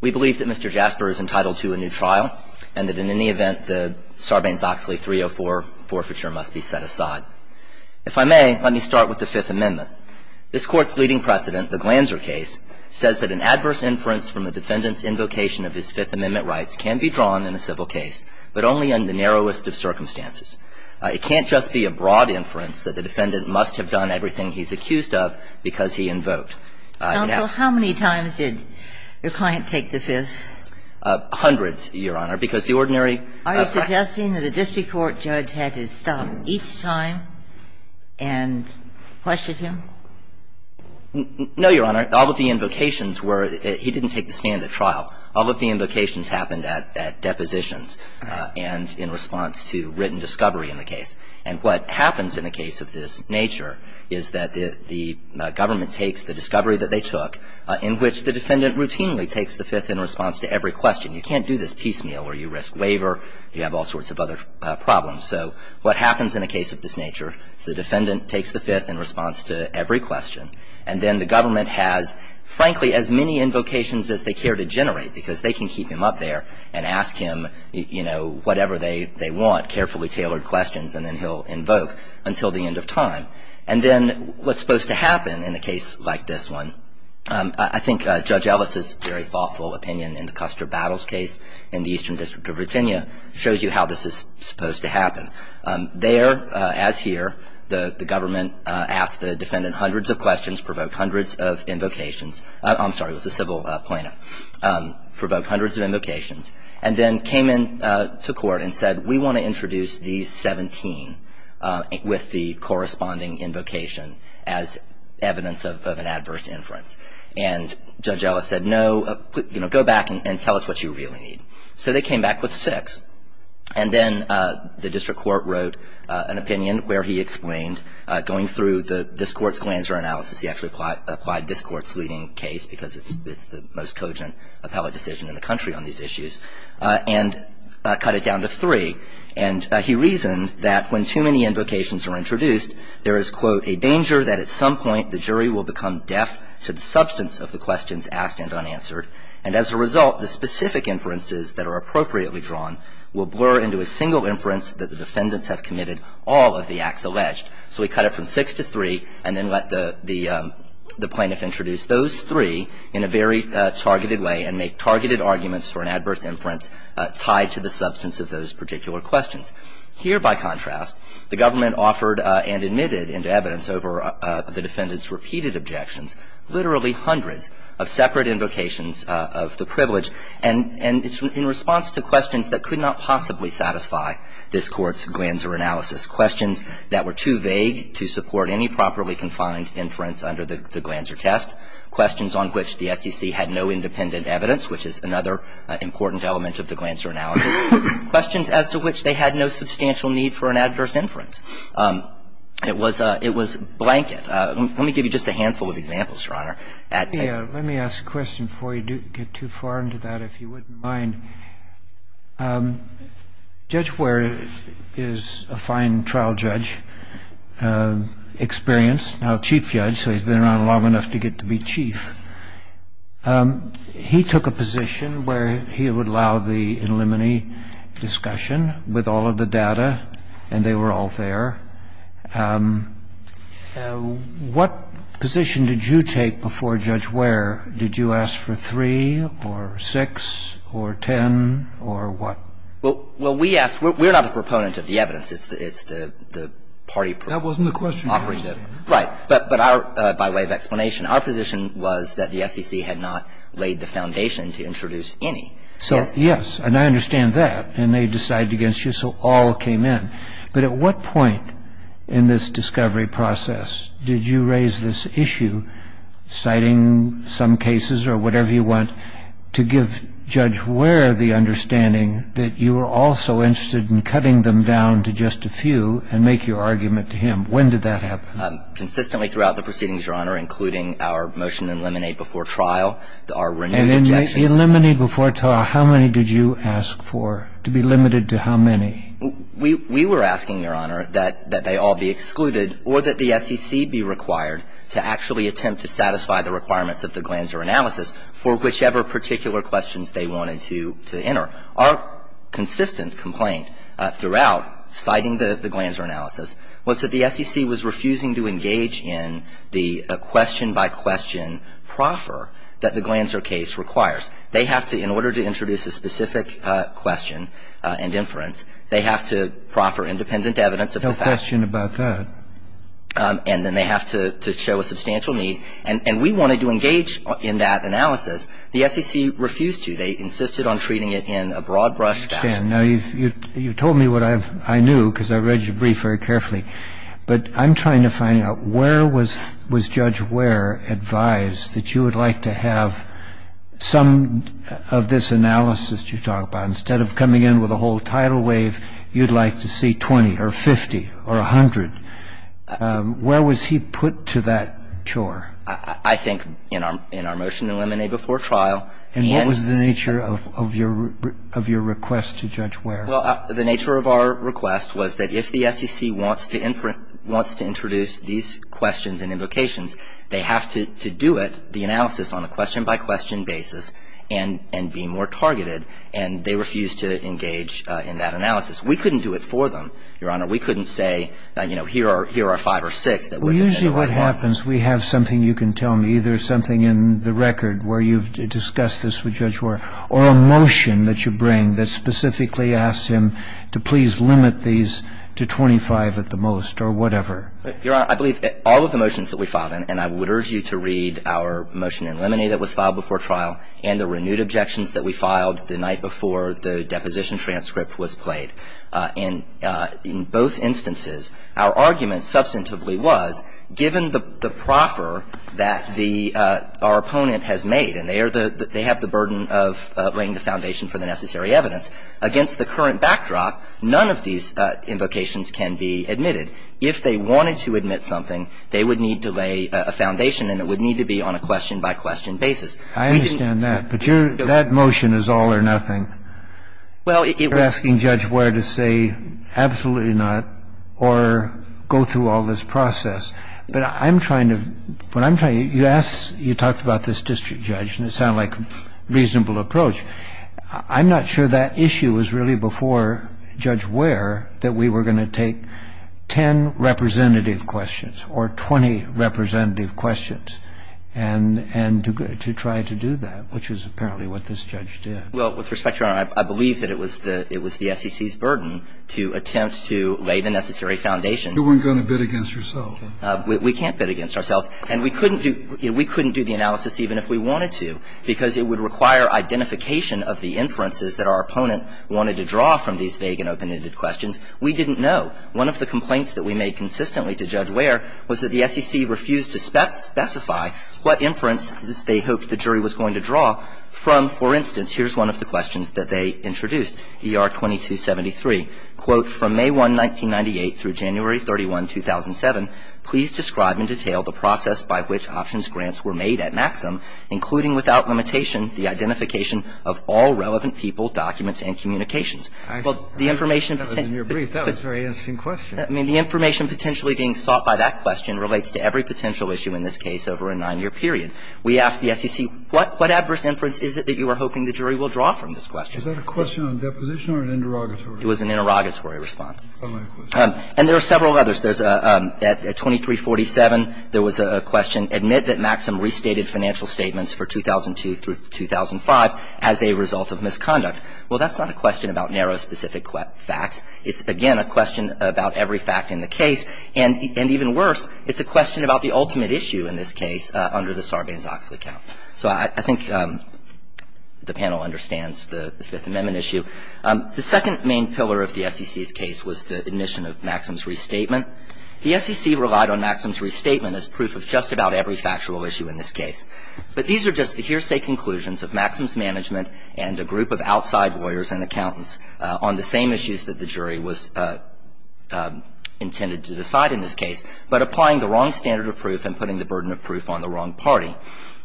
We believe that Mr. Jasper is entitled to a new trial and that in any event, the Sarbanes-Oxley 304 forfeiture must be set aside. If I may, let me start with the Fifth Amendment. This Court's leading precedent, the Glanzer case, says that an adverse inference from the defendant's invocation of his Fifth Amendment rights can be drawn in a civil case, but only in the narrowest of circumstances. It can't just be a broad inference that the defendant must have done everything he's accused of because he invoked. Ginsburg. Counsel, how many times did your client take the Fifth? Jasper. Hundreds, Your Honor, because the ordinary practice of the Fifth Amendment is not the case. Ginsburg. Are you suggesting that the district court judge had to stop each time and question him? Jasper. No, Your Honor. All of the invocations were he didn't take the stand at trial. All of the invocations happened at depositions and in response to written discovery in the case. And what happens in a case of this nature is that the government takes the discovery that they took, in which the defendant routinely takes the Fifth in response to every question. You can't do this piecemeal or you risk waiver. You have all sorts of other problems. So what happens in a case of this nature is the defendant takes the Fifth in response to every question, and then the government has, frankly, as many invocations as they care to generate because they can keep him up there and ask him, you know, whatever they want, carefully tailored questions, and then he'll invoke until the end of time. And then what's supposed to happen in a case like this one? I think Judge Ellis's very thoughtful opinion in the Custer Battles case in the Eastern District of Virginia shows you how this is supposed to happen. There, as here, the government asked the defendant hundreds of questions, provoked hundreds of invocations. I'm sorry, it was a civil plaintiff. Provoked hundreds of invocations. And then came into court and said, we want to introduce these 17 with the corresponding invocation as evidence of an adverse inference. And Judge Ellis said, no, you know, go back and tell us what you really need. So they came back with six. And then the district court wrote an opinion where he explained, going through this court's Glanzer analysis, he actually applied this court's leading case because it's the most cogent appellate decision in the country on these issues, and cut it down to three. And he reasoned that when too many invocations are introduced, there is, quote, a danger that at some point the jury will become deaf to the substance of the questions asked and unanswered. And as a result, the specific inferences that are appropriately drawn will blur into a single inference that the defendants have committed all of the acts alleged. So we cut it from six to three and then let the plaintiff introduce those three in a very targeted way and make targeted arguments for an adverse inference tied to the substance of those particular questions. Here, by contrast, the government offered and admitted into evidence over the defendants' repeated objections literally hundreds of separate invocations of the privilege. And in response to questions that could not possibly satisfy this Court's Glanzer analysis, questions that were too vague to support any properly confined inference under the Glanzer test, questions on which the SEC had no independent evidence, which is another important element of the Glanzer analysis, questions as to which they had no substantial need for an adverse inference. It was a blanket. Let me give you just a handful of examples, Your Honor. Let me ask a question before we get too far into that, if you wouldn't mind. Judge Ware is a fine trial judge, experienced, now chief judge, so he's been around long enough to get to be chief. He took a position where he would allow the in limine discussion with all of the data, and they were all there. What position did you take before Judge Ware? Did you ask for 3 or 6 or 10 or what? Well, we asked we're not the proponent of the evidence. It's the party offering it. That wasn't the question. Right. But our, by way of explanation, our position was that the SEC had not laid the foundation to introduce any. So, yes, and I understand that. And they decided against you, so all came in. But at what point in this discovery process did you raise this issue, citing some cases or whatever you want, to give Judge Ware the understanding that you were also interested in cutting them down to just a few and make your argument to him? When did that happen? Consistently throughout the proceedings, Your Honor, including our motion to eliminate before trial, our renewed objections. And in the eliminate before trial, how many did you ask for, to be limited to how many? We were asking, Your Honor, that they all be excluded or that the SEC be required to actually attempt to satisfy the requirements of the Glanzer analysis for whichever particular questions they wanted to enter. Our consistent complaint throughout citing the Glanzer analysis was that the SEC was refusing to engage in the question-by-question proffer that the Glanzer case requires. And the SEC refused to engage in that analysis. They insisted on treating it in a broad-brush fashion. I understand. Now, you've told me what I knew, because I read your brief very carefully. But I'm trying to find out, where was Judge Ware advised that you would like to have some broad-brush analysis of the Glanzer case? Well, I think in our motion to eliminate before trial, the SEC said, well, you know, if you're going to do one of this analysis you talk about, instead of coming in with a whole tidal wave, you'd like to see 20 or 50 or 100. Where was he put to that chore? I think in our motion to eliminate before trial, the end of the trial. And what was the nature of your request to Judge Ware? Well, the nature of our request was that if the SEC wants to introduce these questions and invocations, they have to do it, the analysis, on a question-by-question basis and be more targeted. And they refused to engage in that analysis. We couldn't do it for them, Your Honor. We couldn't say, you know, here are five or six that we're going to do it. Well, usually what happens, we have something you can tell me, either something in the record where you've discussed this with Judge Ware, or a motion that you bring that specifically asks him to please limit these to 25 at the most or whatever. Your Honor, I believe all of the motions that we filed, and I would urge you to read our motion to eliminate that was filed before trial and the renewed objections that we filed the night before the deposition transcript was played. In both instances, our argument substantively was, given the proffer that the – our opponent has made, and they are the – they have the burden of laying the foundation for the necessary evidence, against the current backdrop, none of these invocations can be admitted. If they wanted to admit something, they would need to lay a foundation, and it would need to be on a question-by-question basis. We didn't – I understand that. But your – that motion is all or nothing. Well, it was – You're asking Judge Ware to say, absolutely not, or go through all this process. But I'm trying to – what I'm trying – you asked – you talked about this district judge, and it sounded like a reasonable approach. I'm not sure that issue was really before Judge Ware that we were going to take 10 representative questions or 20 representative questions and – and to try to do that, which is apparently what this judge did. Well, with respect, Your Honor, I believe that it was the SEC's burden to attempt to lay the necessary foundation. You weren't going to bid against yourself. We can't bid against ourselves. And we couldn't do – we couldn't do the analysis even if we wanted to, because it would require identification of the inferences that our opponent wanted to draw from these vague and open-ended questions. We didn't know. One of the complaints that we made consistently to Judge Ware was that the SEC refused to specify what inferences they hoped the jury was going to draw from, for instance, here's one of the questions that they introduced, ER 2273, quote, from May 1, 1998 through January 31, 2007, please describe in detail the process by which options grants were made at Maxim, including without limitation the identification of all relevant people, documents, and communications. Well, the information – That was in your brief. That was a very interesting question. I mean, the information potentially being sought by that question relates to every potential issue in this case over a 9-year period. We asked the SEC, what adverse inference is it that you are hoping the jury will draw from this question? Is that a question on deposition or an interrogatory? It was an interrogatory response. And there are several others. There's a – at 2347, there was a question, admit that Maxim restated financial statements for 2002 through 2005 as a result of misconduct. Well, that's not a question about narrow, specific facts. It's, again, a question about every fact in the case. And even worse, it's a question about the ultimate issue in this case under the Sarbanes-Oxley count. So I think the panel understands the Fifth Amendment issue. The second main pillar of the SEC's case was the admission of Maxim's restatement. The SEC relied on Maxim's restatement as proof of just about every factual issue in this case. But these are just the hearsay conclusions of Maxim's management and a group of outside lawyers and accountants on the same issues that the jury was intended to decide in this case, but applying the wrong standard of proof and putting the burden of proof on the wrong party. Now,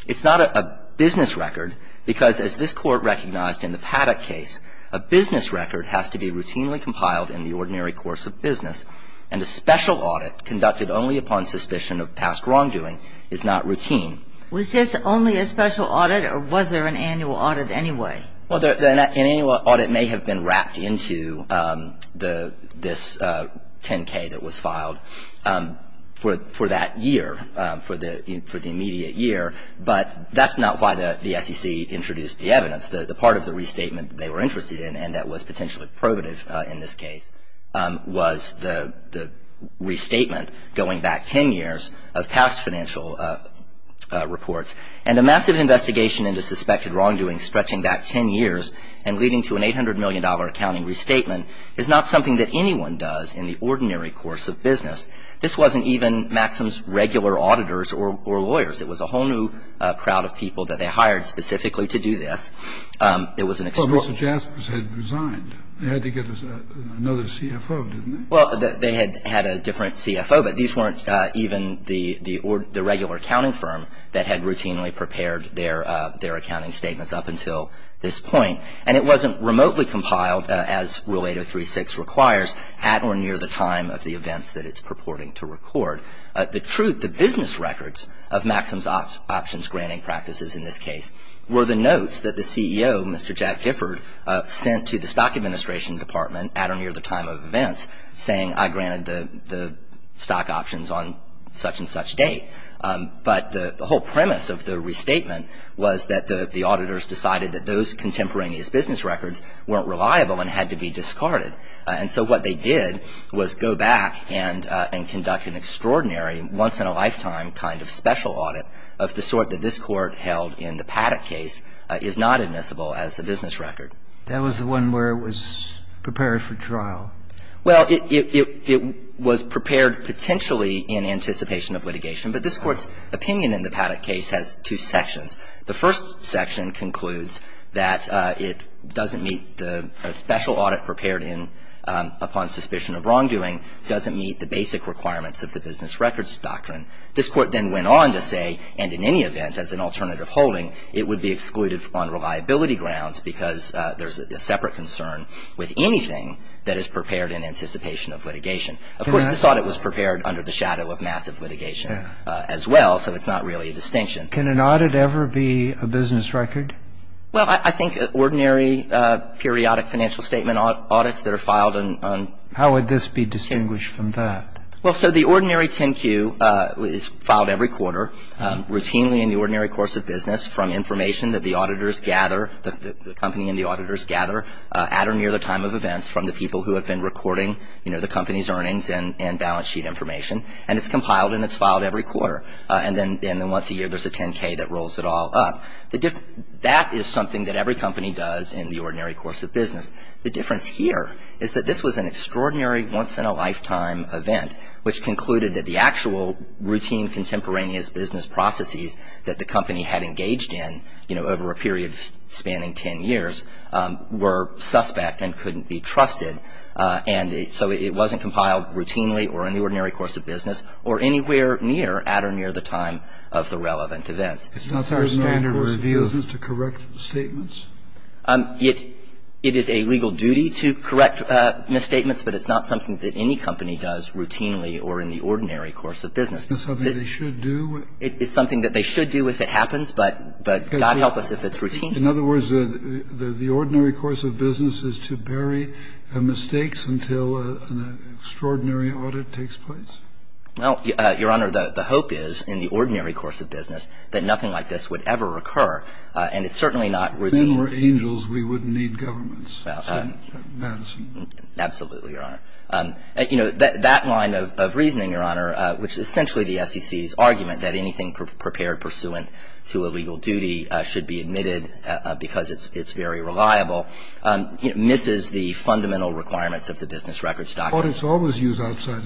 it's not a business record, because as this Court recognized in the Paddock case, a business record has to be routinely compiled in the ordinary course of business, and a special audit conducted only upon suspicion of past wrongdoing is not routine. Was this only a special audit, or was there an annual audit anyway? Well, an annual audit may have been wrapped into the – this 10-K that was filed for that year, for the immediate year, but that's not why the SEC introduced the evidence. The part of the restatement they were interested in, and that was potentially probative in this case, was the restatement going back 10 years of past financial reports. And a massive investigation into suspected wrongdoing stretching back 10 years and leading to an $800 million accounting restatement is not something that anyone does in the ordinary course of business. This wasn't even Maxim's regular auditors or lawyers. It was a whole new crowd of people that they hired specifically to do this. It was an – But Mr. Jaspers had resigned. They had to get another CFO, didn't they? Well, they had had a different CFO, but these weren't even the regular accounting firm that had routinely prepared their accounting statements up until this point. And it wasn't remotely compiled, as Rule 8036 requires, at or near the time of the events that it's purporting to record. The truth, the business records of Maxim's options granting practices in this case were the notes that the CEO, Mr. Jack Gifford, sent to the Stock Administration Department at or near the time of events saying, I granted the stock options on such and such date. But the whole premise of the restatement was that the auditors decided that those contemporaneous business records weren't reliable and had to be discarded. And so what they did was go back and conduct an extraordinary once-in-a-lifetime kind of special audit of the sort that this Court held in the Paddock case is not admissible as a business record. That was the one where it was prepared for trial. Well, it was prepared potentially in anticipation of litigation. But this Court's opinion in the Paddock case has two sections. The first section concludes that it doesn't meet the special audit prepared in upon suspicion of wrongdoing, doesn't meet the basic requirements of the business records doctrine. This Court then went on to say, and in any event, as an alternative holding, it would be excluded on reliability grounds because there's a separate concern with anything that is prepared in anticipation of litigation. Of course, this audit was prepared under the shadow of massive litigation as well, so it's not really a distinction. Can an audit ever be a business record? Well, I think ordinary periodic financial statement audits that are filed on 10Q. How would this be distinguished from that? Well, so the ordinary 10Q is filed every quarter routinely in the ordinary course of business from information that the auditors gather, the company and the auditors gather at or near the time of events from the people who have been recording, you know, the company's earnings and balance sheet information. And it's compiled and it's filed every quarter. And then once a year there's a 10K that rolls it all up. That is something that every company does in the ordinary course of business. The difference here is that this was an extraordinary once-in-a-lifetime event which concluded that the actual routine contemporaneous business processes that the company had engaged in, you know, over a period spanning 10 years, were suspect and couldn't be trusted. And so it wasn't compiled routinely or in the ordinary course of business or anywhere near, at or near the time of the relevant events. It's not our standard review. It's not the standard course of business to correct statements? It is a legal duty to correct misstatements, but it's not something that any company does routinely or in the ordinary course of business. Isn't that something they should do? It's something that they should do if it happens, but God help us if it's routine. In other words, the ordinary course of business is to bury mistakes until an extraordinary audit takes place? Well, Your Honor, the hope is, in the ordinary course of business, that nothing like this would ever occur. And it's certainly not routine. If men were angels, we wouldn't need governments. Absolutely, Your Honor. You know, that line of reasoning, Your Honor, which is essentially the SEC's argument that anything prepared pursuant to a legal duty should be admitted because it's very reliable, misses the fundamental requirements of the business records doctrine. Audits always use outside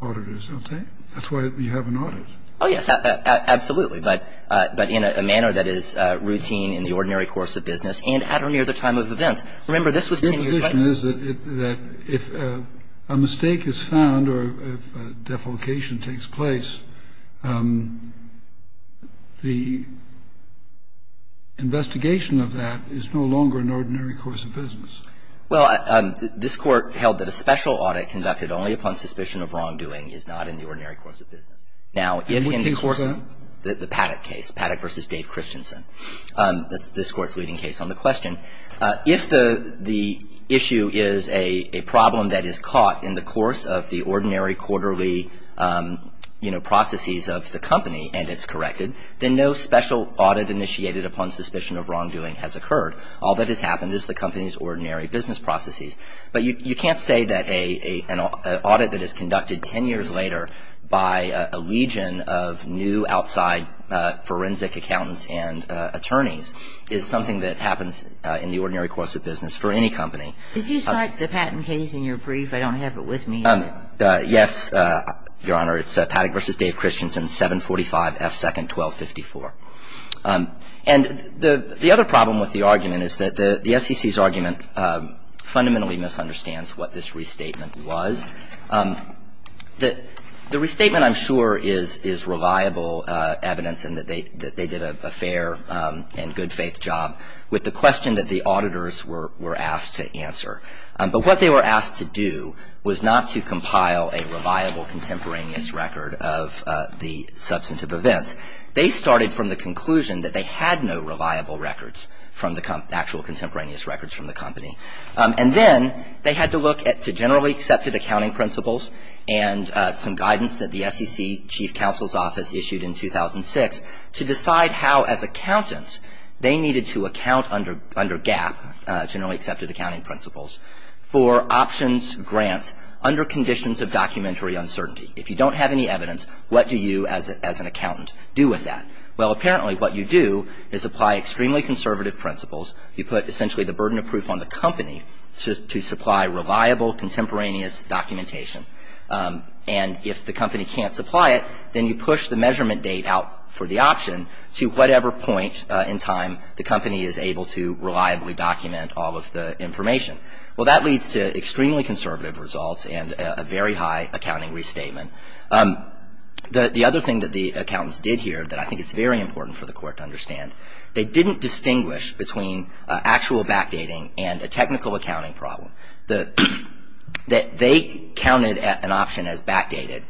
auditors, don't they? That's why you have an audit. Oh, yes. Absolutely. But in a manner that is routine in the ordinary course of business and at or near the time of events. Remember, this was 10 years later. Your position is that if a mistake is found or if a defalcation takes place, the investigation of that is no longer an ordinary course of business? Well, this Court held that a special audit conducted only upon suspicion of wrongdoing is not an ordinary course of business. Now, in the course of the Paddock case, Paddock v. Dave Christensen, this Court's leading case on the question, if the issue is a problem that is caught in the course of the ordinary quarterly, you know, processes of the company and it's corrected, then no special audit initiated upon suspicion of wrongdoing has occurred. All that has happened is the company's ordinary business processes. But you can't say that an audit that is conducted 10 years later by a legion of new outside forensic accountants and attorneys is something that happens in the ordinary course of business for any company. If you cite the Paddock case in your brief, I don't have it with me. Yes, Your Honor. It's Paddock v. Dave Christensen, 745 F. 2nd 1254. And the other problem with the argument is that the SEC's argument fundamentally misunderstands what this restatement was. The restatement, I'm sure, is reliable evidence in that they did a fair and good-faith job with the question that the auditors were asked to answer. But what they were asked to do was not to compile a reliable contemporaneous record of the substantive events. They started from the conclusion that they had no reliable records from the company, actual contemporaneous records from the company. And then they had to look at the generally accepted accounting principles and some guidance that the SEC Chief Counsel's Office issued in 2006 to decide how, as accountants, they needed to account under GAP, generally accepted accounting principles, for options grants under conditions of documentary uncertainty. If you don't have any evidence, what do you, as an accountant, do with that? Well, apparently what you do is apply extremely conservative principles. You put, essentially, the burden of proof on the company to supply reliable contemporaneous documentation. And if the company can't supply it, then you push the measurement date out for the option to whatever point in time the company is able to reliably document all of the information. Well, that leads to extremely conservative results and a very high accounting restatement. The other thing that the accountants did here that I think it's very important for the Court to understand, they didn't distinguish between actual backdating and a technical accounting problem. They counted an option as backdated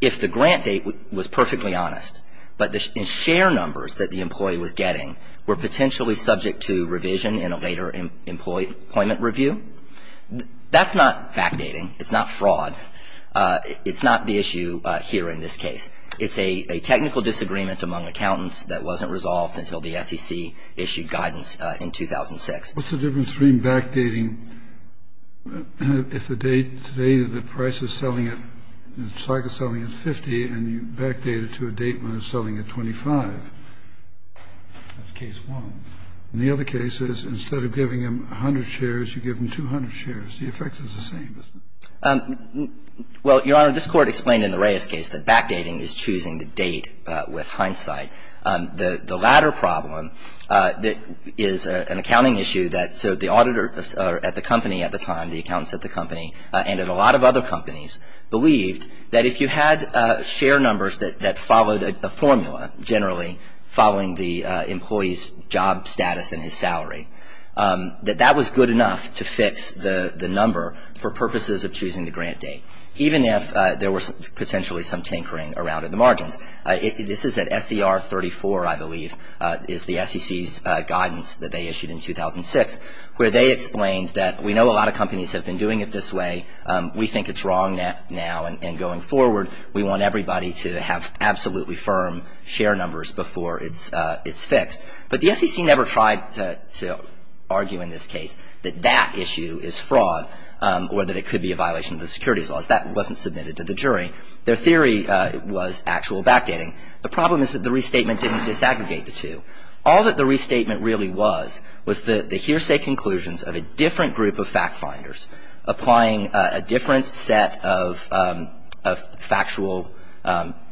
if the grant date was perfectly honest, but the share numbers that the employee was getting were potentially subject to revision in a later employment review. That's not backdating. It's not fraud. It's not the issue here in this case. It's a technical disagreement among accountants that wasn't resolved until the SEC issued guidance in 2006. What's the difference between backdating if the date today, the price is selling it, the stock is selling at 50, and you backdate it to a date when it's selling at 25? That's case one. In the other cases, instead of giving them 100 shares, you give them 200 shares. The effect is the same, isn't it? Well, Your Honor, this Court explained in the Reyes case that backdating is choosing the date with hindsight. The latter problem is an accounting issue that so the auditor at the company at the time, the accountants at the company, and at a lot of other companies, believed that if you had share numbers that followed a formula, generally following the employee's job status and his salary, that that was good enough to fix the number for purposes of choosing the grant date, even if there was potentially some tinkering around in the margins. This is at SCR 34, I believe, is the SEC's guidance that they issued in 2006, where they explained that we know a lot of companies have been doing it this way. We think it's wrong now, and going forward, we want everybody to have absolutely firm share numbers before it's fixed. But the SEC never tried to argue in this case that that issue is fraud or that it could be a violation of the securities laws. That wasn't submitted to the jury. Their theory was actual backdating. The problem is that the restatement didn't disaggregate the two. All that the restatement really was was the hearsay conclusions of a different group of fact-finders, applying a different set of factual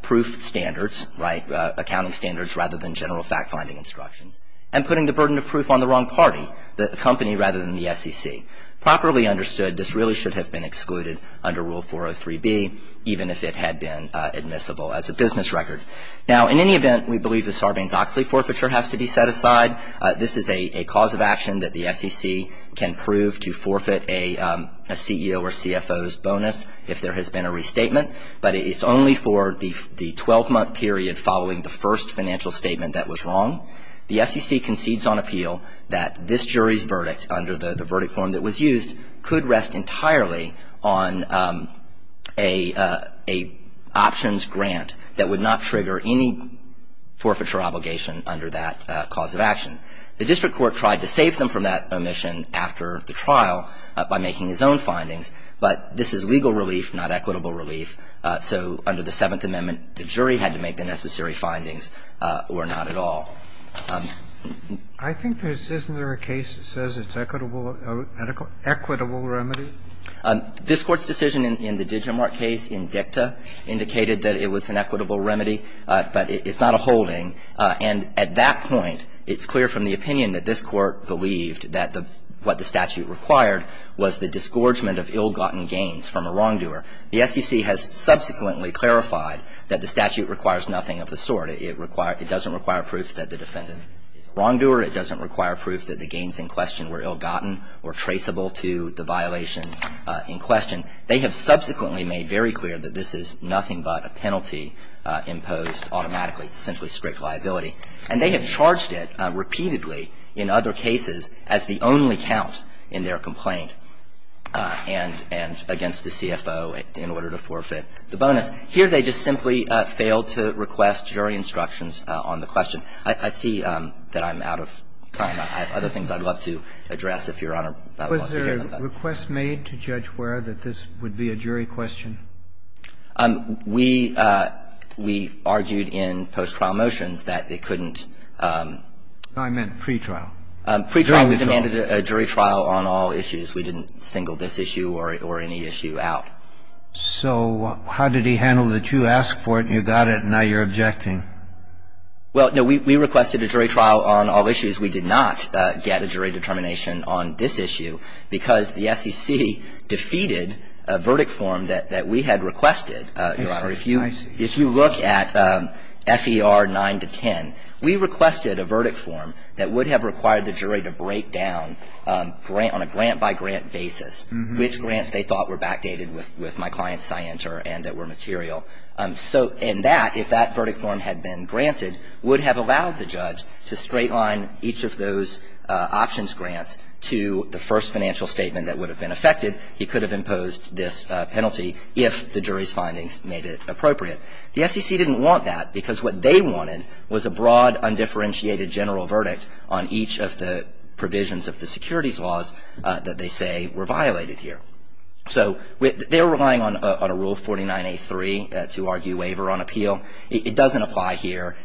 proof standards, accounting standards rather than general fact-finding instructions, and putting the burden of proof on the wrong party, the company rather than the SEC. Properly understood, this really should have been excluded under Rule 403B, even if it had been admissible as a business record. Now, in any event, we believe the Sarbanes-Oxley forfeiture has to be set aside. This is a cause of action that the SEC can prove to forfeit a CEO or CFO's bonus if there has been a restatement, but it's only for the 12-month period following the first financial statement that was wrong. The SEC concedes on appeal that this jury's verdict under the verdict form that was used could rest entirely on a options grant that would not trigger any forfeiture obligation under that cause of action. The district court tried to save them from that omission after the trial by making its own findings, but this is legal relief, not equitable relief. So under the Seventh Amendment, the jury had to make the necessary findings or not at all. I think there's isn't there a case that says it's equitable, an equitable remedy? This Court's decision in the Digimart case in dicta indicated that it was an equitable remedy, but it's not a holding. And at that point, it's clear from the opinion that this Court believed that what the statute required was the disgorgement of ill-gotten gains from a wrongdoer. The SEC has subsequently clarified that the statute requires nothing of the sort. It doesn't require proof that the defendant is a wrongdoer. It doesn't require proof that the gains in question were ill-gotten or traceable to the violation in question. They have subsequently made very clear that this is nothing but a penalty imposed automatically, essentially strict liability. And they have charged it repeatedly in other cases as the only count in their complaint and against the CFO in order to forfeit the bonus. Here they just simply failed to request jury instructions on the question. I see that I'm out of time. I have other things I'd love to address if Your Honor wants to hear them. The request made to Judge Ware that this would be a jury question? We argued in post-trial motions that they couldn't. I meant pretrial. Pretrial. We demanded a jury trial on all issues. We didn't single this issue or any issue out. So how did he handle that you asked for it and you got it and now you're objecting? Well, no. We requested a jury trial on all issues. We did not get a jury determination on this issue because the SEC defeated a verdict form that we had requested, Your Honor. I see. If you look at FER 9 to 10, we requested a verdict form that would have required the jury to break down on a grant-by-grant basis which grants they thought were backdated with my client's scienter and that were material. So in that, if that verdict form had been granted, would have allowed the judge to straight-line each of those options grants to the first financial statement that would have been affected. He could have imposed this penalty if the jury's findings made it appropriate. The SEC didn't want that because what they wanted was a broad, undifferentiated general verdict on each of the provisions of the securities laws that they say were violated here. So they're relying on a Rule 49A3 to argue waiver on appeal. It doesn't apply here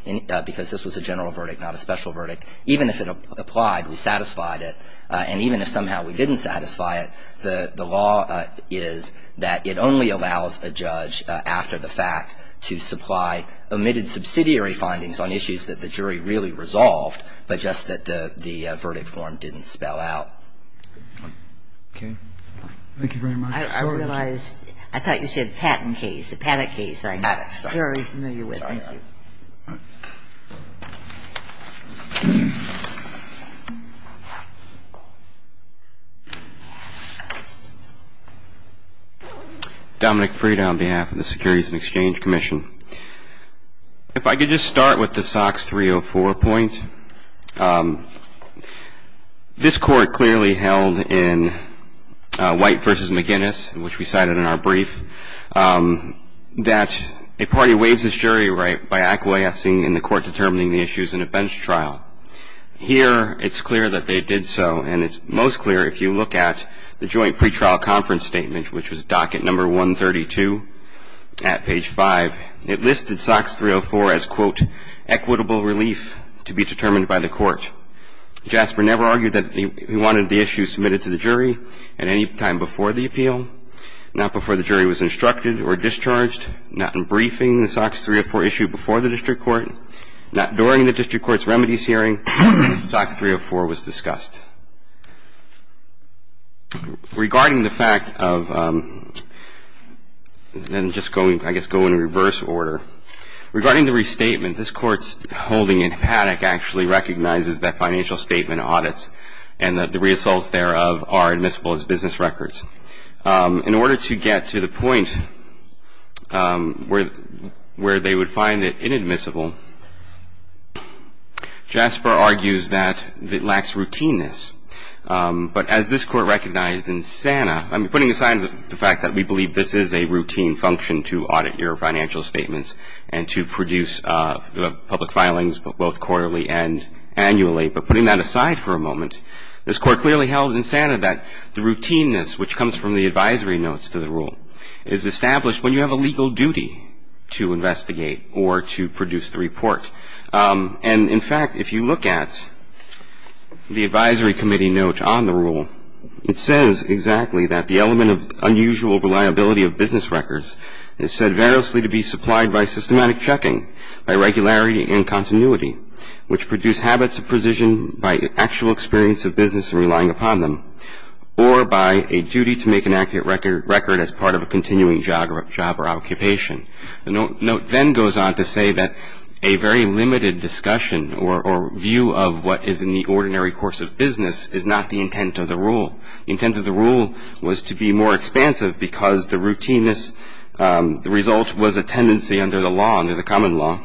because this was a general verdict, not a special verdict. Even if it applied, we satisfied it. And even if somehow we didn't satisfy it, the law is that it only allows a judge after the fact to supply omitted subsidiary findings on issues that the jury really resolved, but just that the verdict form didn't spell out. Okay. Thank you very much. I realize I thought you said patent case. The patent case. I'm sorry. I'm very familiar with it. Sorry. Thank you. Dominic Frieda on behalf of the Securities and Exchange Commission. If I could just start with the SOX 304 point. This Court clearly held in White v. McGinnis, which we cited in our brief, that a party waives its jury right by acquiescing in the court determining the issues in a bench trial. Here it's clear that they did so, and it's most clear if you look at the joint pretrial conference statement, which was docket number 132 at page 5. It listed SOX 304 as, quote, equitable relief to be determined by the court. Jasper never argued that he wanted the issue submitted to the jury at any time before the appeal, not before the jury was instructed or discharged, not in briefing the SOX 304 issue before the district court, not during the district court's remedies hearing. SOX 304 was discussed. Regarding the fact of then just going, I guess, going in reverse order. Regarding the restatement, this Court's holding in Haddock actually recognizes that financial statement audits and that the results thereof are admissible as business records. In order to get to the point where they would find it inadmissible, Jasper argues that it lacks routineness. But as this Court recognized in SANA, I mean, putting aside the fact that we believe this is a routine function to audit your financial statements and to produce public filings both quarterly and annually, but putting that aside for a moment, this Court clearly held in SANA that the routineness which comes from the advisory notes to the rule is established when you have a legal duty to investigate or to produce the report. And, in fact, if you look at the advisory committee note on the rule, it says exactly that the element of unusual reliability of business records is said variously to be supplied by systematic checking, by regularity and continuity, which produce habits of precision by actual experience of business and relying upon them, or by a duty to make an accurate record as part of a continuing job or occupation. The note then goes on to say that a very limited discussion or view of what is in the ordinary course of business is not the intent of the rule. The intent of the rule was to be more expansive because the routineness, the result was a tendency under the law, under the common law.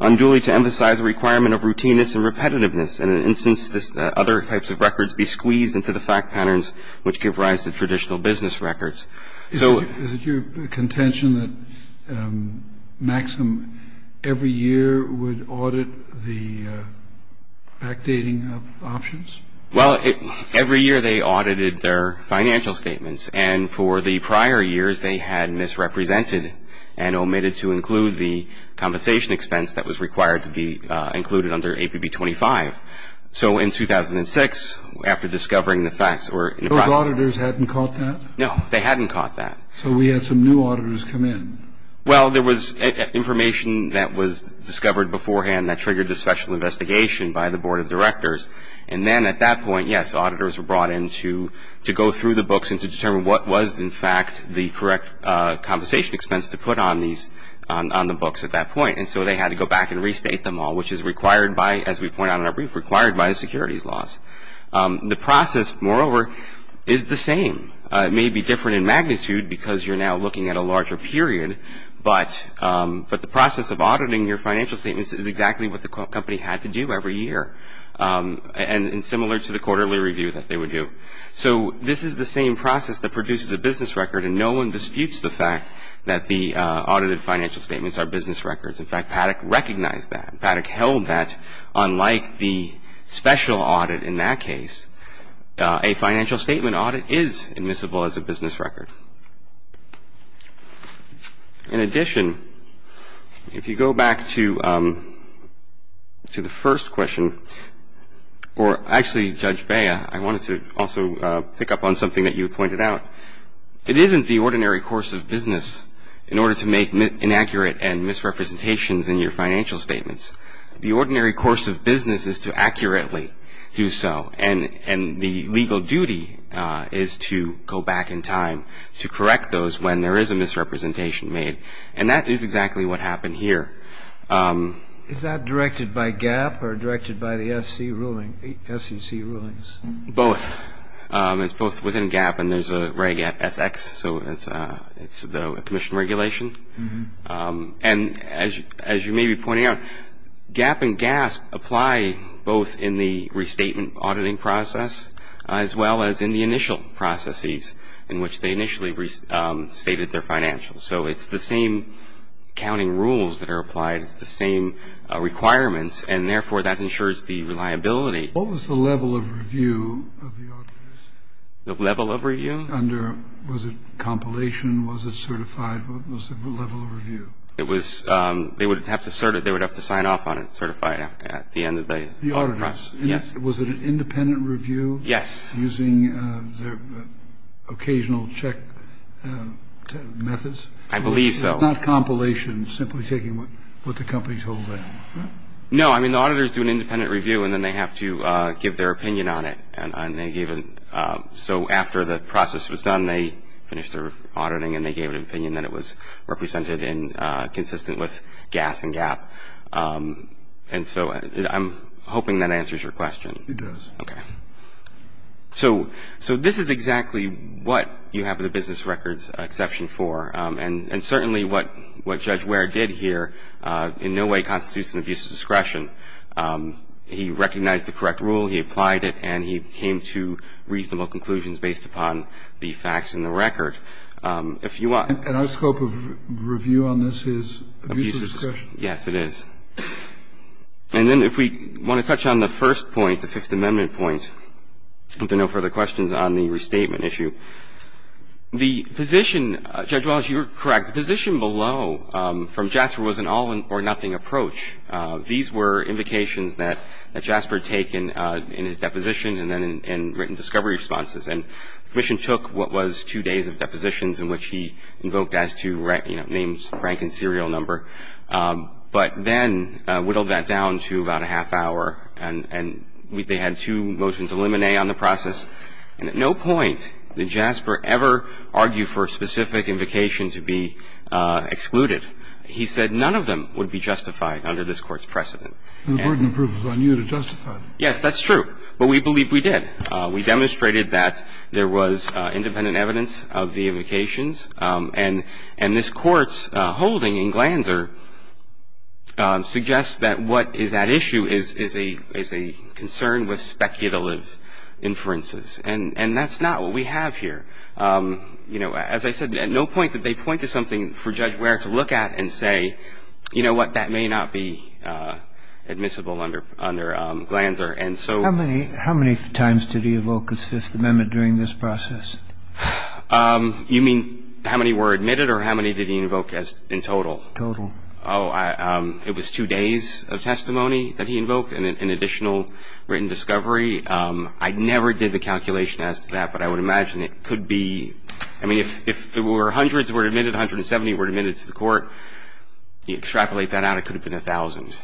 Unduly to emphasize the requirement of routineness and repetitiveness. And in an instance, other types of records be squeezed into the fact patterns which give rise to traditional business records. So your contention that Maxim every year would audit the backdating of options? Well, every year they audited their financial statements. And for the prior years they had misrepresented and omitted to include the compensation expense that was required to be included under APB 25. So in 2006, after discovering the facts or in the process. Those auditors hadn't caught that? No, they hadn't caught that. So we had some new auditors come in? Well, there was information that was discovered beforehand that triggered the special investigation by the board of directors. And then at that point, yes, auditors were brought in to go through the books and to determine what was in fact the correct compensation expense to put on these, on the books at that point. And so they had to go back and restate them all, which is required by, as we point out in our brief, required by securities laws. The process, moreover, is the same. It may be different in magnitude because you're now looking at a larger period. But the process of auditing your financial statements is exactly what the company had to do every year. And similar to the quarterly review that they would do. So this is the same process that produces a business record. And no one disputes the fact that the audited financial statements are business records. In fact, Paddock recognized that. Paddock held that. Unlike the special audit in that case, a financial statement audit is admissible as a business record. In addition, if you go back to the first question, or actually, Judge Bea, I wanted to also pick up on something that you pointed out. It isn't the ordinary course of business in order to make inaccurate and misrepresentations in your financial statements. The ordinary course of business is to accurately do so. And the legal duty is to go back in time to correct those when there is a misrepresentation made. And that is exactly what happened here. Is that directed by GAAP or directed by the SEC rulings? Both. It's both within GAAP and there's a reg at SX. So it's the commission regulation. And as you may be pointing out, GAAP and GASP apply both in the restatement auditing process as well as in the initial processes in which they initially restated their financials. So it's the same counting rules that are applied. It's the same requirements. And, therefore, that ensures the reliability. What was the level of review of the auditors? The level of review? Was it compilation? Was it certified? What was the level of review? They would have to sign off on it, certified, at the end of the audit process. The auditors? Yes. Was it an independent review? Yes. Using their occasional check methods? I believe so. Not compilation, simply taking what the company told them? No. I mean, the auditors do an independent review and then they have to give their opinion on it. So after the process was done, they finished their auditing and they gave an opinion that it was represented and consistent with GASP and GAAP. And so I'm hoping that answers your question. It does. Okay. So this is exactly what you have the business records exception for. And certainly what Judge Ware did here in no way constitutes an abuse of discretion. He recognized the correct rule, he applied it, and he came to reasonable conclusions based upon the facts in the record. If you want to. And our scope of review on this is abuse of discretion? Yes, it is. And then if we want to touch on the first point, the Fifth Amendment point, if there are no further questions, on the restatement issue. The position, Judge Wallace, you are correct. The position below from Jasper was an all or nothing approach. These were invocations that Jasper had taken in his deposition and then in written discovery responses. And the Commission took what was two days of depositions in which he invoked as to names, rank, and serial number. But then whittled that down to about a half hour. And they had two motions of limine on the process. And at no point did Jasper ever argue for a specific invocation to be excluded. He said none of them would be justified under this Court's precedent. The burden of proof is on you to justify them. Yes, that's true. But we believe we did. We demonstrated that there was independent evidence of the invocations. And this Court's holding in Glanzer suggests that what is at issue is a concern with speculative inferences. And that's not what we have here. You know, as I said, at no point did they point to something for Judge Ware to look at and say, you know what, that may not be admissible under Glanzer. And so ---- How many times did he invoke as Fifth Amendment during this process? You mean how many were admitted or how many did he invoke as in total? Total. Oh, it was two days of testimony that he invoked and an additional written discovery. I never did the calculation as to that, but I would imagine it could be ---- I mean, if there were hundreds that were admitted, 170 were admitted to the Court, you extrapolate that out, it could have been 1,000.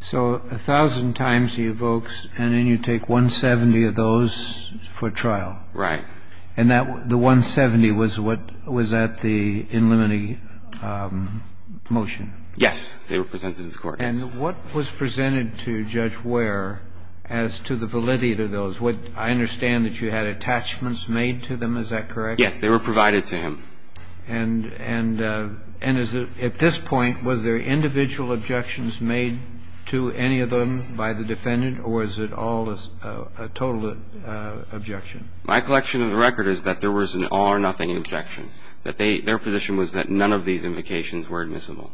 So 1,000 times he evokes, and then you take 170 of those for trial. Right. And that the 170 was what was at the in limine motion? Yes. They were presented to the Court, yes. And what was presented to Judge Ware as to the validity of those? I understand that you had attachments made to them. Is that correct? Yes. They were provided to him. And at this point, was there individual objections made to any of them by the defendant or was it all a total objection? My collection of the record is that there was an all or nothing objection, that their position was that none of these invocations were admissible.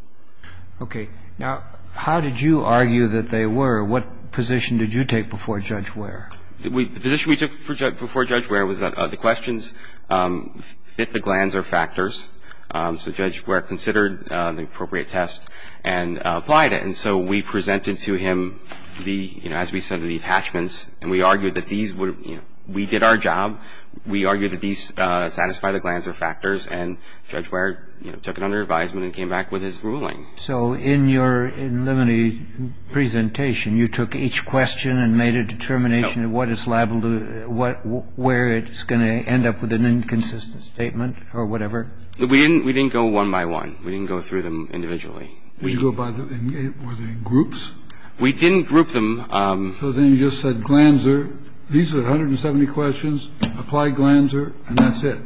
Okay. Now, how did you argue that they were? What position did you take before Judge Ware? The position we took before Judge Ware was that the questions fit the glands or factors, so Judge Ware considered the appropriate test and applied it. And so we presented to him the, you know, as we said, the attachments, and we argued that these would, you know, we did our job, we argued that these satisfy the glands or factors, and Judge Ware, you know, took it under advisement and came back with his ruling. So in your in limine presentation, you took each question and made a determination of what is liable to, where it's going to end up with an inconsistent statement or whatever? We didn't go one by one. We didn't go through them individually. Did you go by the, were they in groups? We didn't group them. So then you just said glands or, these are 170 questions, apply glands or, and that's it?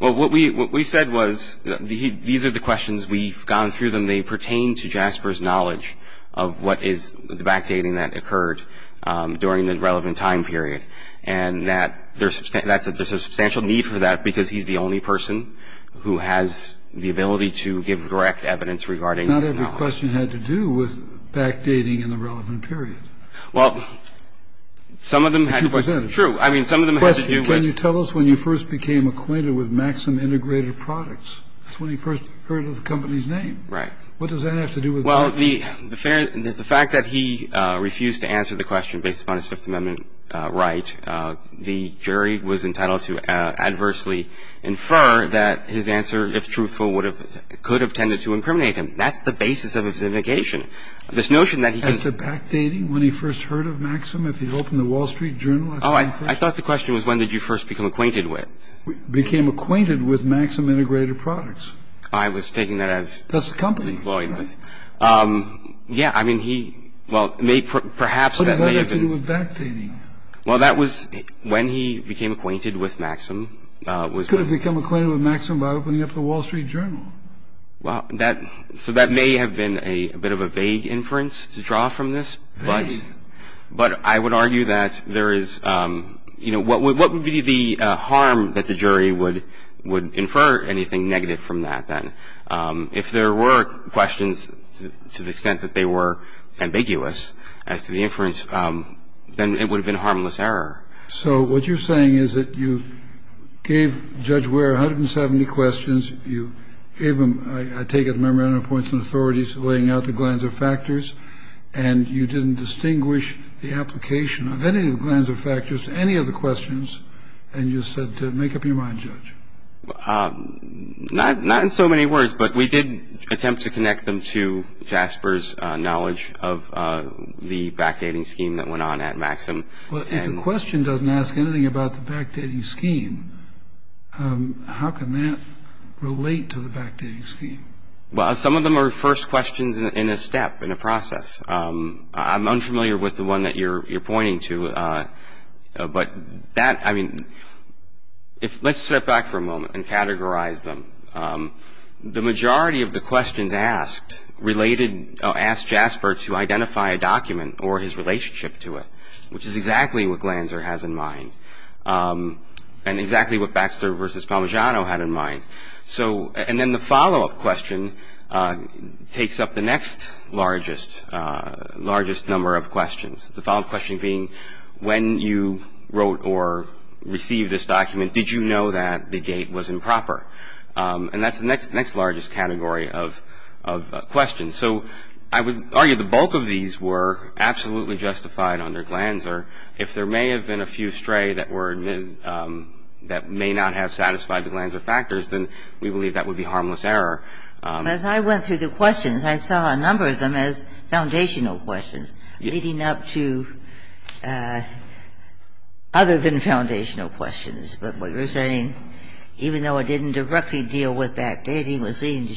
Well, what we said was, these are the questions, we've gone through them, they pertain to Jasper's knowledge of what is the backdating that occurred during the relevant time period, and that there's a substantial need for that because he's the only person who has the ability to give direct evidence regarding his knowledge. Not every question had to do with backdating in the relevant period. Well, some of them had to do with, true, I mean, some of them had to do with. Question. Can you tell us when you first became acquainted with Maxim Integrated Products? That's when you first heard of the company's name. Right. What does that have to do with that? Well, the fact that he refused to answer the question based upon his Fifth Amendment right, the jury was entitled to adversely infer that his answer, if truthful, would have, could have tended to incriminate him. That's the basis of his indication. This notion that he could. As to backdating, when he first heard of Maxim, if he'd opened the Wall Street Journal. Oh, I thought the question was when did you first become acquainted with. Became acquainted with Maxim Integrated Products. I was taking that as. That's the company. Employed with. Yeah, I mean, he, well, perhaps that may have been. What does that have to do with backdating? Well, that was when he became acquainted with Maxim. Could have become acquainted with Maxim by opening up the Wall Street Journal. Well, that, so that may have been a bit of a vague inference to draw from this. Vague. But I would argue that there is, you know, what would be the harm that the jury would infer anything negative from that then? If there were questions to the extent that they were ambiguous as to the inference, then it would have been a harmless error. So what you're saying is that you gave Judge Ware 170 questions. You gave him, I take it, a memorandum of points and authorities laying out the glands of factors. And you didn't distinguish the application of any of the glands of factors to any of the questions. And you said to make up your mind, Judge. Not in so many words. But we did attempt to connect them to Jasper's knowledge of the backdating scheme that went on at Maxim. Well, if a question doesn't ask anything about the backdating scheme, how can that relate to the backdating scheme? Well, some of them are first questions in a step, in a process. I'm unfamiliar with the one that you're pointing to. But that, I mean, let's step back for a moment and categorize them. The majority of the questions asked asked Jasper to identify a document or his relationship to it, which is exactly what Glanzer has in mind and exactly what Baxter v. Palmagiano had in mind. And then the follow-up question takes up the next largest number of questions, the follow-up question being, when you wrote or received this document, did you know that the gate was improper? And that's the next largest category of questions. So I would argue the bulk of these were absolutely justified under Glanzer. If there may have been a few stray that were admitted that may not have satisfied the glands of factors, then we believe that would be harmless error. As I went through the questions, I saw a number of them as foundational questions leading up to other than foundational questions. But what you're saying, even though it didn't directly deal with backdating, was seen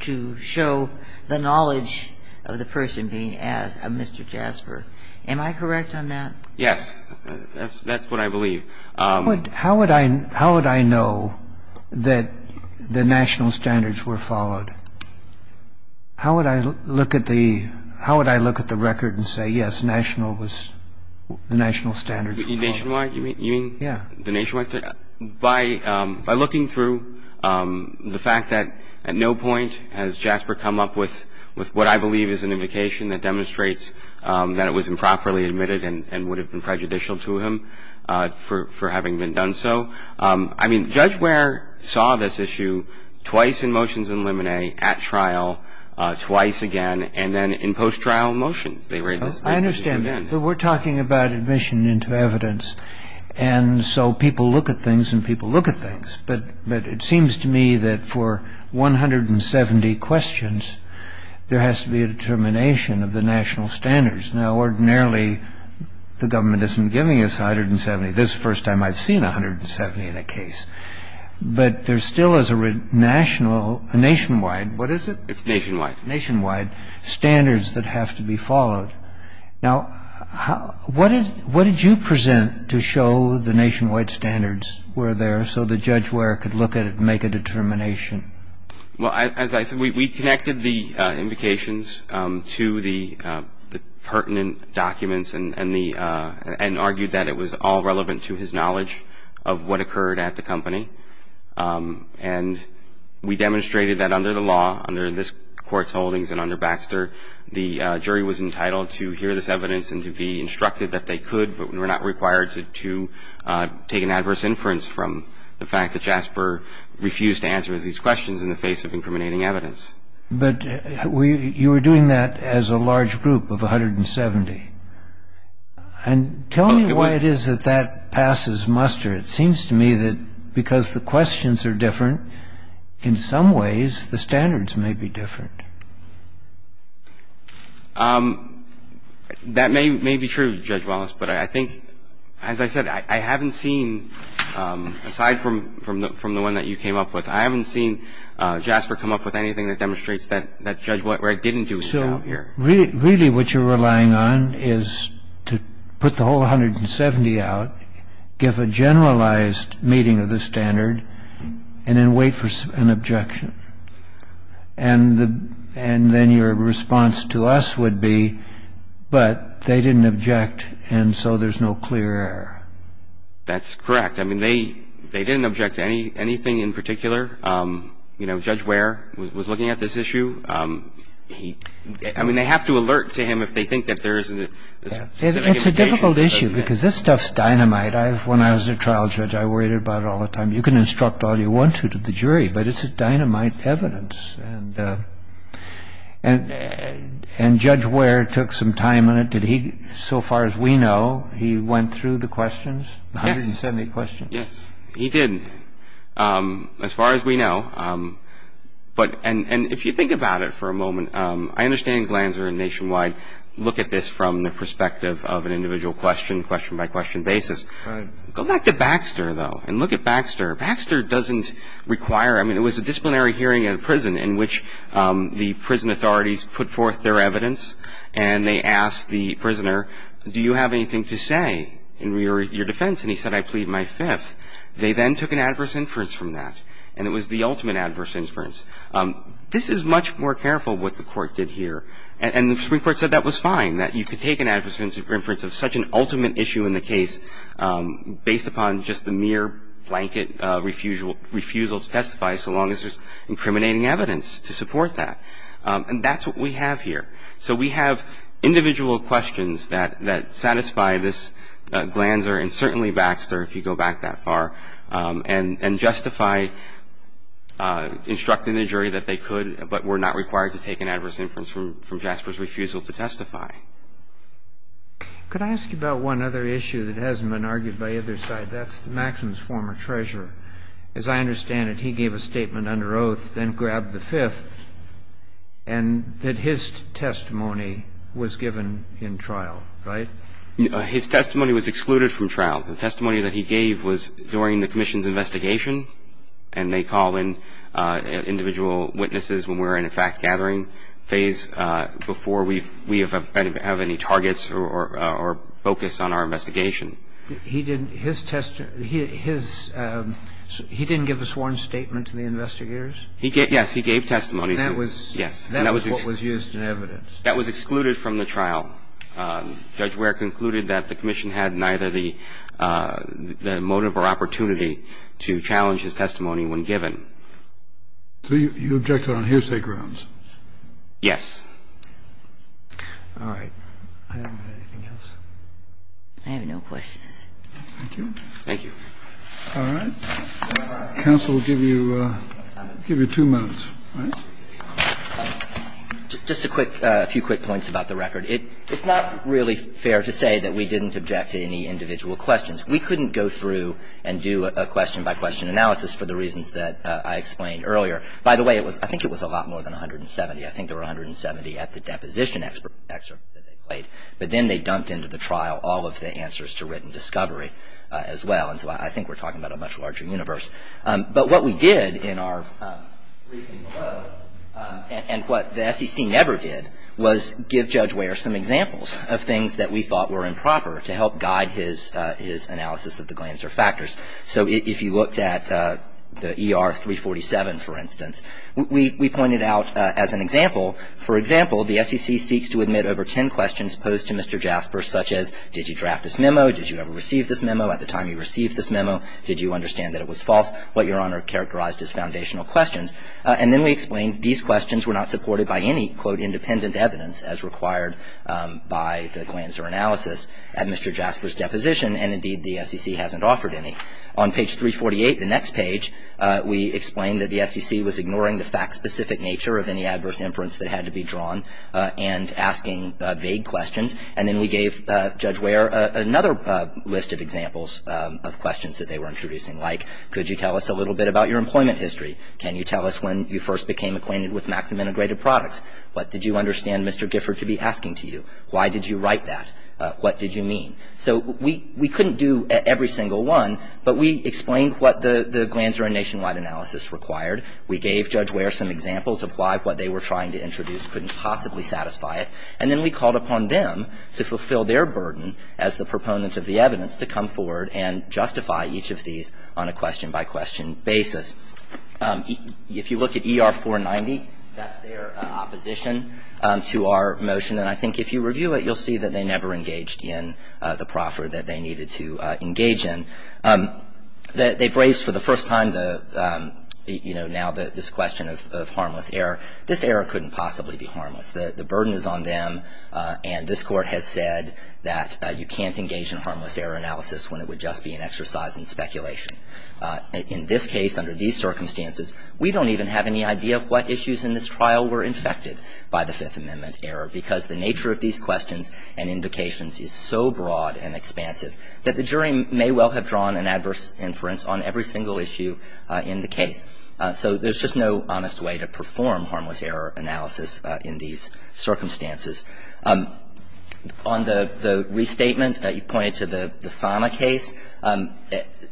to show the knowledge of the person being asked, of Mr. Jasper. Am I correct on that? Yes. That's what I believe. How would I know that the national standards were followed? How would I look at the record and say, yes, the national standards were followed? You mean nationwide? Yeah. By looking through the fact that at no point has Jasper come up with what I believe is an indication that demonstrates that it was improperly admitted and would have been prejudicial to him for having been done so. I mean, Judge Ware saw this issue twice in motions and limine at trial, twice again, and then in post-trial motions. I understand that. But we're talking about admission into evidence. And so people look at things and people look at things. But it seems to me that for 170 questions, there has to be a determination of the national standards. Now, ordinarily, the government isn't giving us 170. This is the first time I've seen 170 in a case. But there still is a national, a nationwide, what is it? It's nationwide. Nationwide standards that have to be followed. Now, what did you present to show the nationwide standards were there so that Judge Ware could look at it and make a determination? Well, as I said, we connected the invocations to the pertinent documents and argued that it was all relevant to his knowledge of what occurred at the company. And we demonstrated that under the law, under this Court's holdings and under Baxter, the jury was entitled to hear this evidence and to be instructed that they could but were not required to take an adverse inference from the fact that Jasper refused to answer these questions in the face of incriminating evidence. But you were doing that as a large group of 170. And tell me why it is that that passes muster. It seems to me that because the questions are different, in some ways, the standards may be different. That may be true, Judge Wallace. But I think, as I said, I haven't seen, aside from the one that you came up with, I haven't seen Jasper come up with anything that demonstrates that Judge Ware didn't do anything out here. So really what you're relying on is to put the whole 170 out, give a generalized meeting of the standard, and then wait for an objection. And then your response to us would be, but they didn't object, and so there's no clear error. That's correct. I mean, they didn't object to anything in particular. You know, Judge Ware was looking at this issue. I mean, they have to alert to him if they think that there isn't a specific indication. It's a difficult issue because this stuff's dynamite. When I was a trial judge, I worried about it all the time. You can instruct all you want to to the jury, but it's a dynamite. And Judge Ware took some time on it. Did he, so far as we know, he went through the questions, the 170 questions? Yes. He did, as far as we know. And if you think about it for a moment, I understand Glanzer and Nationwide look at this from the perspective of an individual question, question-by-question basis. Go back to Baxter, though, and look at Baxter. Baxter doesn't require, I mean, it was a disciplinary hearing in a prison in which the prison authorities put forth their evidence and they asked the prisoner, do you have anything to say in your defense? And he said, I plead my fifth. They then took an adverse inference from that, and it was the ultimate adverse inference. This is much more careful what the court did here, and the Supreme Court said that was fine, that you could take an adverse inference of such an ultimate issue in the case based upon just the mere blanket refusal to testify so long as there's incriminating evidence to support that. And that's what we have here. So we have individual questions that satisfy this Glanzer and certainly Baxter, if you go back that far, and justify instructing the jury that they could but were not required to take an adverse inference from Jasper's refusal to testify. Could I ask you about one other issue that hasn't been argued by either side? That's the Maxims' former treasurer. As I understand it, he gave a statement under oath, then grabbed the fifth, and that his testimony was given in trial, right? His testimony was excluded from trial. The testimony that he gave was during the commission's investigation, and they call in individual witnesses when we're in a fact-gathering phase before we have had a discussion and have any targets or focus on our investigation. He didn't give a sworn statement to the investigators? Yes. He gave testimony. And that was what was used in evidence? That was excluded from the trial. Judge Ware concluded that the commission had neither the motive or opportunity to challenge his testimony when given. So you objected on hearsay grounds? Yes. All right. I don't have anything else. I have no questions. Thank you. Thank you. All right. Counsel will give you two moments, all right? Just a quick, a few quick points about the record. It's not really fair to say that we didn't object to any individual questions. We couldn't go through and do a question-by-question analysis for the reasons that I explained earlier. By the way, I think it was a lot more than 170. I think there were 170 at the deposition excerpt that they played. But then they dumped into the trial all of the answers to written discovery as well. And so I think we're talking about a much larger universe. But what we did in our briefing below, and what the SEC never did, was give Judge Ware some examples of things that we thought were improper to help guide his analysis of the Glanzer factors. So if you looked at the ER 347, for instance, we pointed out as an example, for example, the SEC seeks to admit over ten questions posed to Mr. Jasper, such as did you draft this memo, did you ever receive this memo, at the time you received this memo, did you understand that it was false, what Your Honor characterized as foundational questions. And then we explained these questions were not supported by any, quote, independent evidence as required by the Glanzer analysis at Mr. Jasper's deposition, and indeed the SEC hasn't offered any. On page 348, the next page, we explained that the SEC was ignoring the fact-specific nature of any adverse inference that had to be drawn and asking vague questions. And then we gave Judge Ware another list of examples of questions that they were introducing, like could you tell us a little bit about your employment history, can you tell us when you first became acquainted with Maxim Integrated Products, what did you understand Mr. Gifford to be asking to you, why did you write that, what did you mean. So we couldn't do every single one, but we explained what the Glanzer and Nationwide analysis required. We gave Judge Ware some examples of why what they were trying to introduce couldn't possibly satisfy it. And then we called upon them to fulfill their burden as the proponent of the evidence to come forward and justify each of these on a question-by-question basis. If you look at ER 490, that's their opposition to our motion. And I think if you review it, you'll see that they never engaged in the proffer that they needed to engage in. They've raised for the first time the, you know, now this question of harmless error. This error couldn't possibly be harmless. The burden is on them, and this Court has said that you can't engage in harmless error analysis when it would just be an exercise in speculation. In this case, under these circumstances, we don't even have any idea what issues in this trial were infected by the Fifth Amendment error, because the nature of these questions and indications is so broad and expansive that the jury may well have drawn an adverse inference on every single issue in the case. So there's just no honest way to perform harmless error analysis in these circumstances. On the restatement that you pointed to, the Sana case,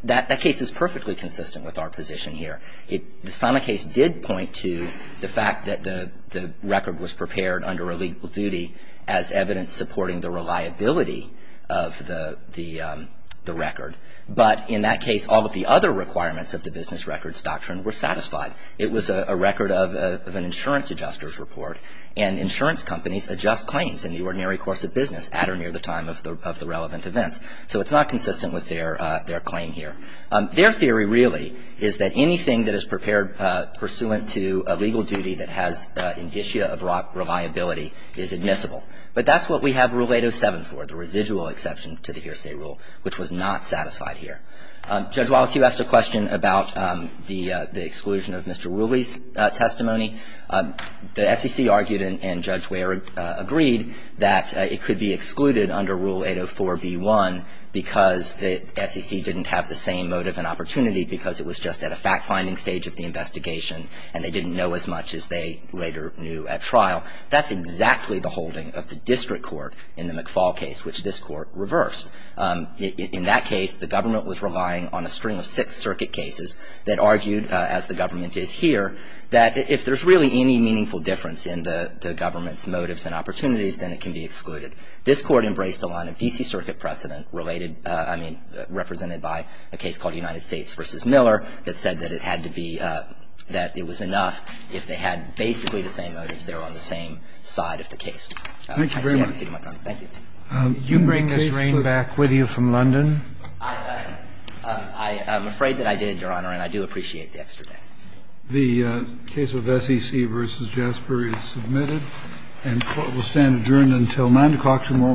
that case is perfectly consistent with our position here. The Sana case did point to the fact that the record was prepared under a legal duty as evidence supporting the reliability of the record. But in that case, all of the other requirements of the business records doctrine were satisfied. It was a record of an insurance adjuster's report, and insurance companies adjust claims in the ordinary course of business at or near the time of the relevant events. So it's not consistent with their claim here. Their theory, really, is that anything that is prepared pursuant to a legal duty that has an issue of reliability is admissible. But that's what we have Rule 807 for, the residual exception to the hearsay rule, which was not satisfied here. Judge Wallace, you asked a question about the exclusion of Mr. Ruley's testimony. The SEC argued and Judge Ware agreed that it could be excluded under Rule 804b-1 because the SEC didn't have the same motive and opportunity because it was just at a fact-finding stage of the investigation and they didn't know as much as they later knew at trial. That's exactly the holding of the district court in the McFaul case, which this Court reversed. In that case, the government was relying on a string of Sixth Circuit cases that argued, as the government is here, that if there's really any meaningful difference in the government's motives and opportunities, then it can be excluded. This Court embraced a line of D.C. Circuit precedent related to, I mean, represented by a case called United States v. Miller that said that it had to be, that it was enough if they had basically the same motives, they were on the same side of the case. I see I've exceeded my time. Thank you. You bring this reign back with you from London? I'm afraid that I did, Your Honor, and I do appreciate the extra day. The case of SEC v. Jasper is submitted and will stand adjourned until 9 o'clock tomorrow morning.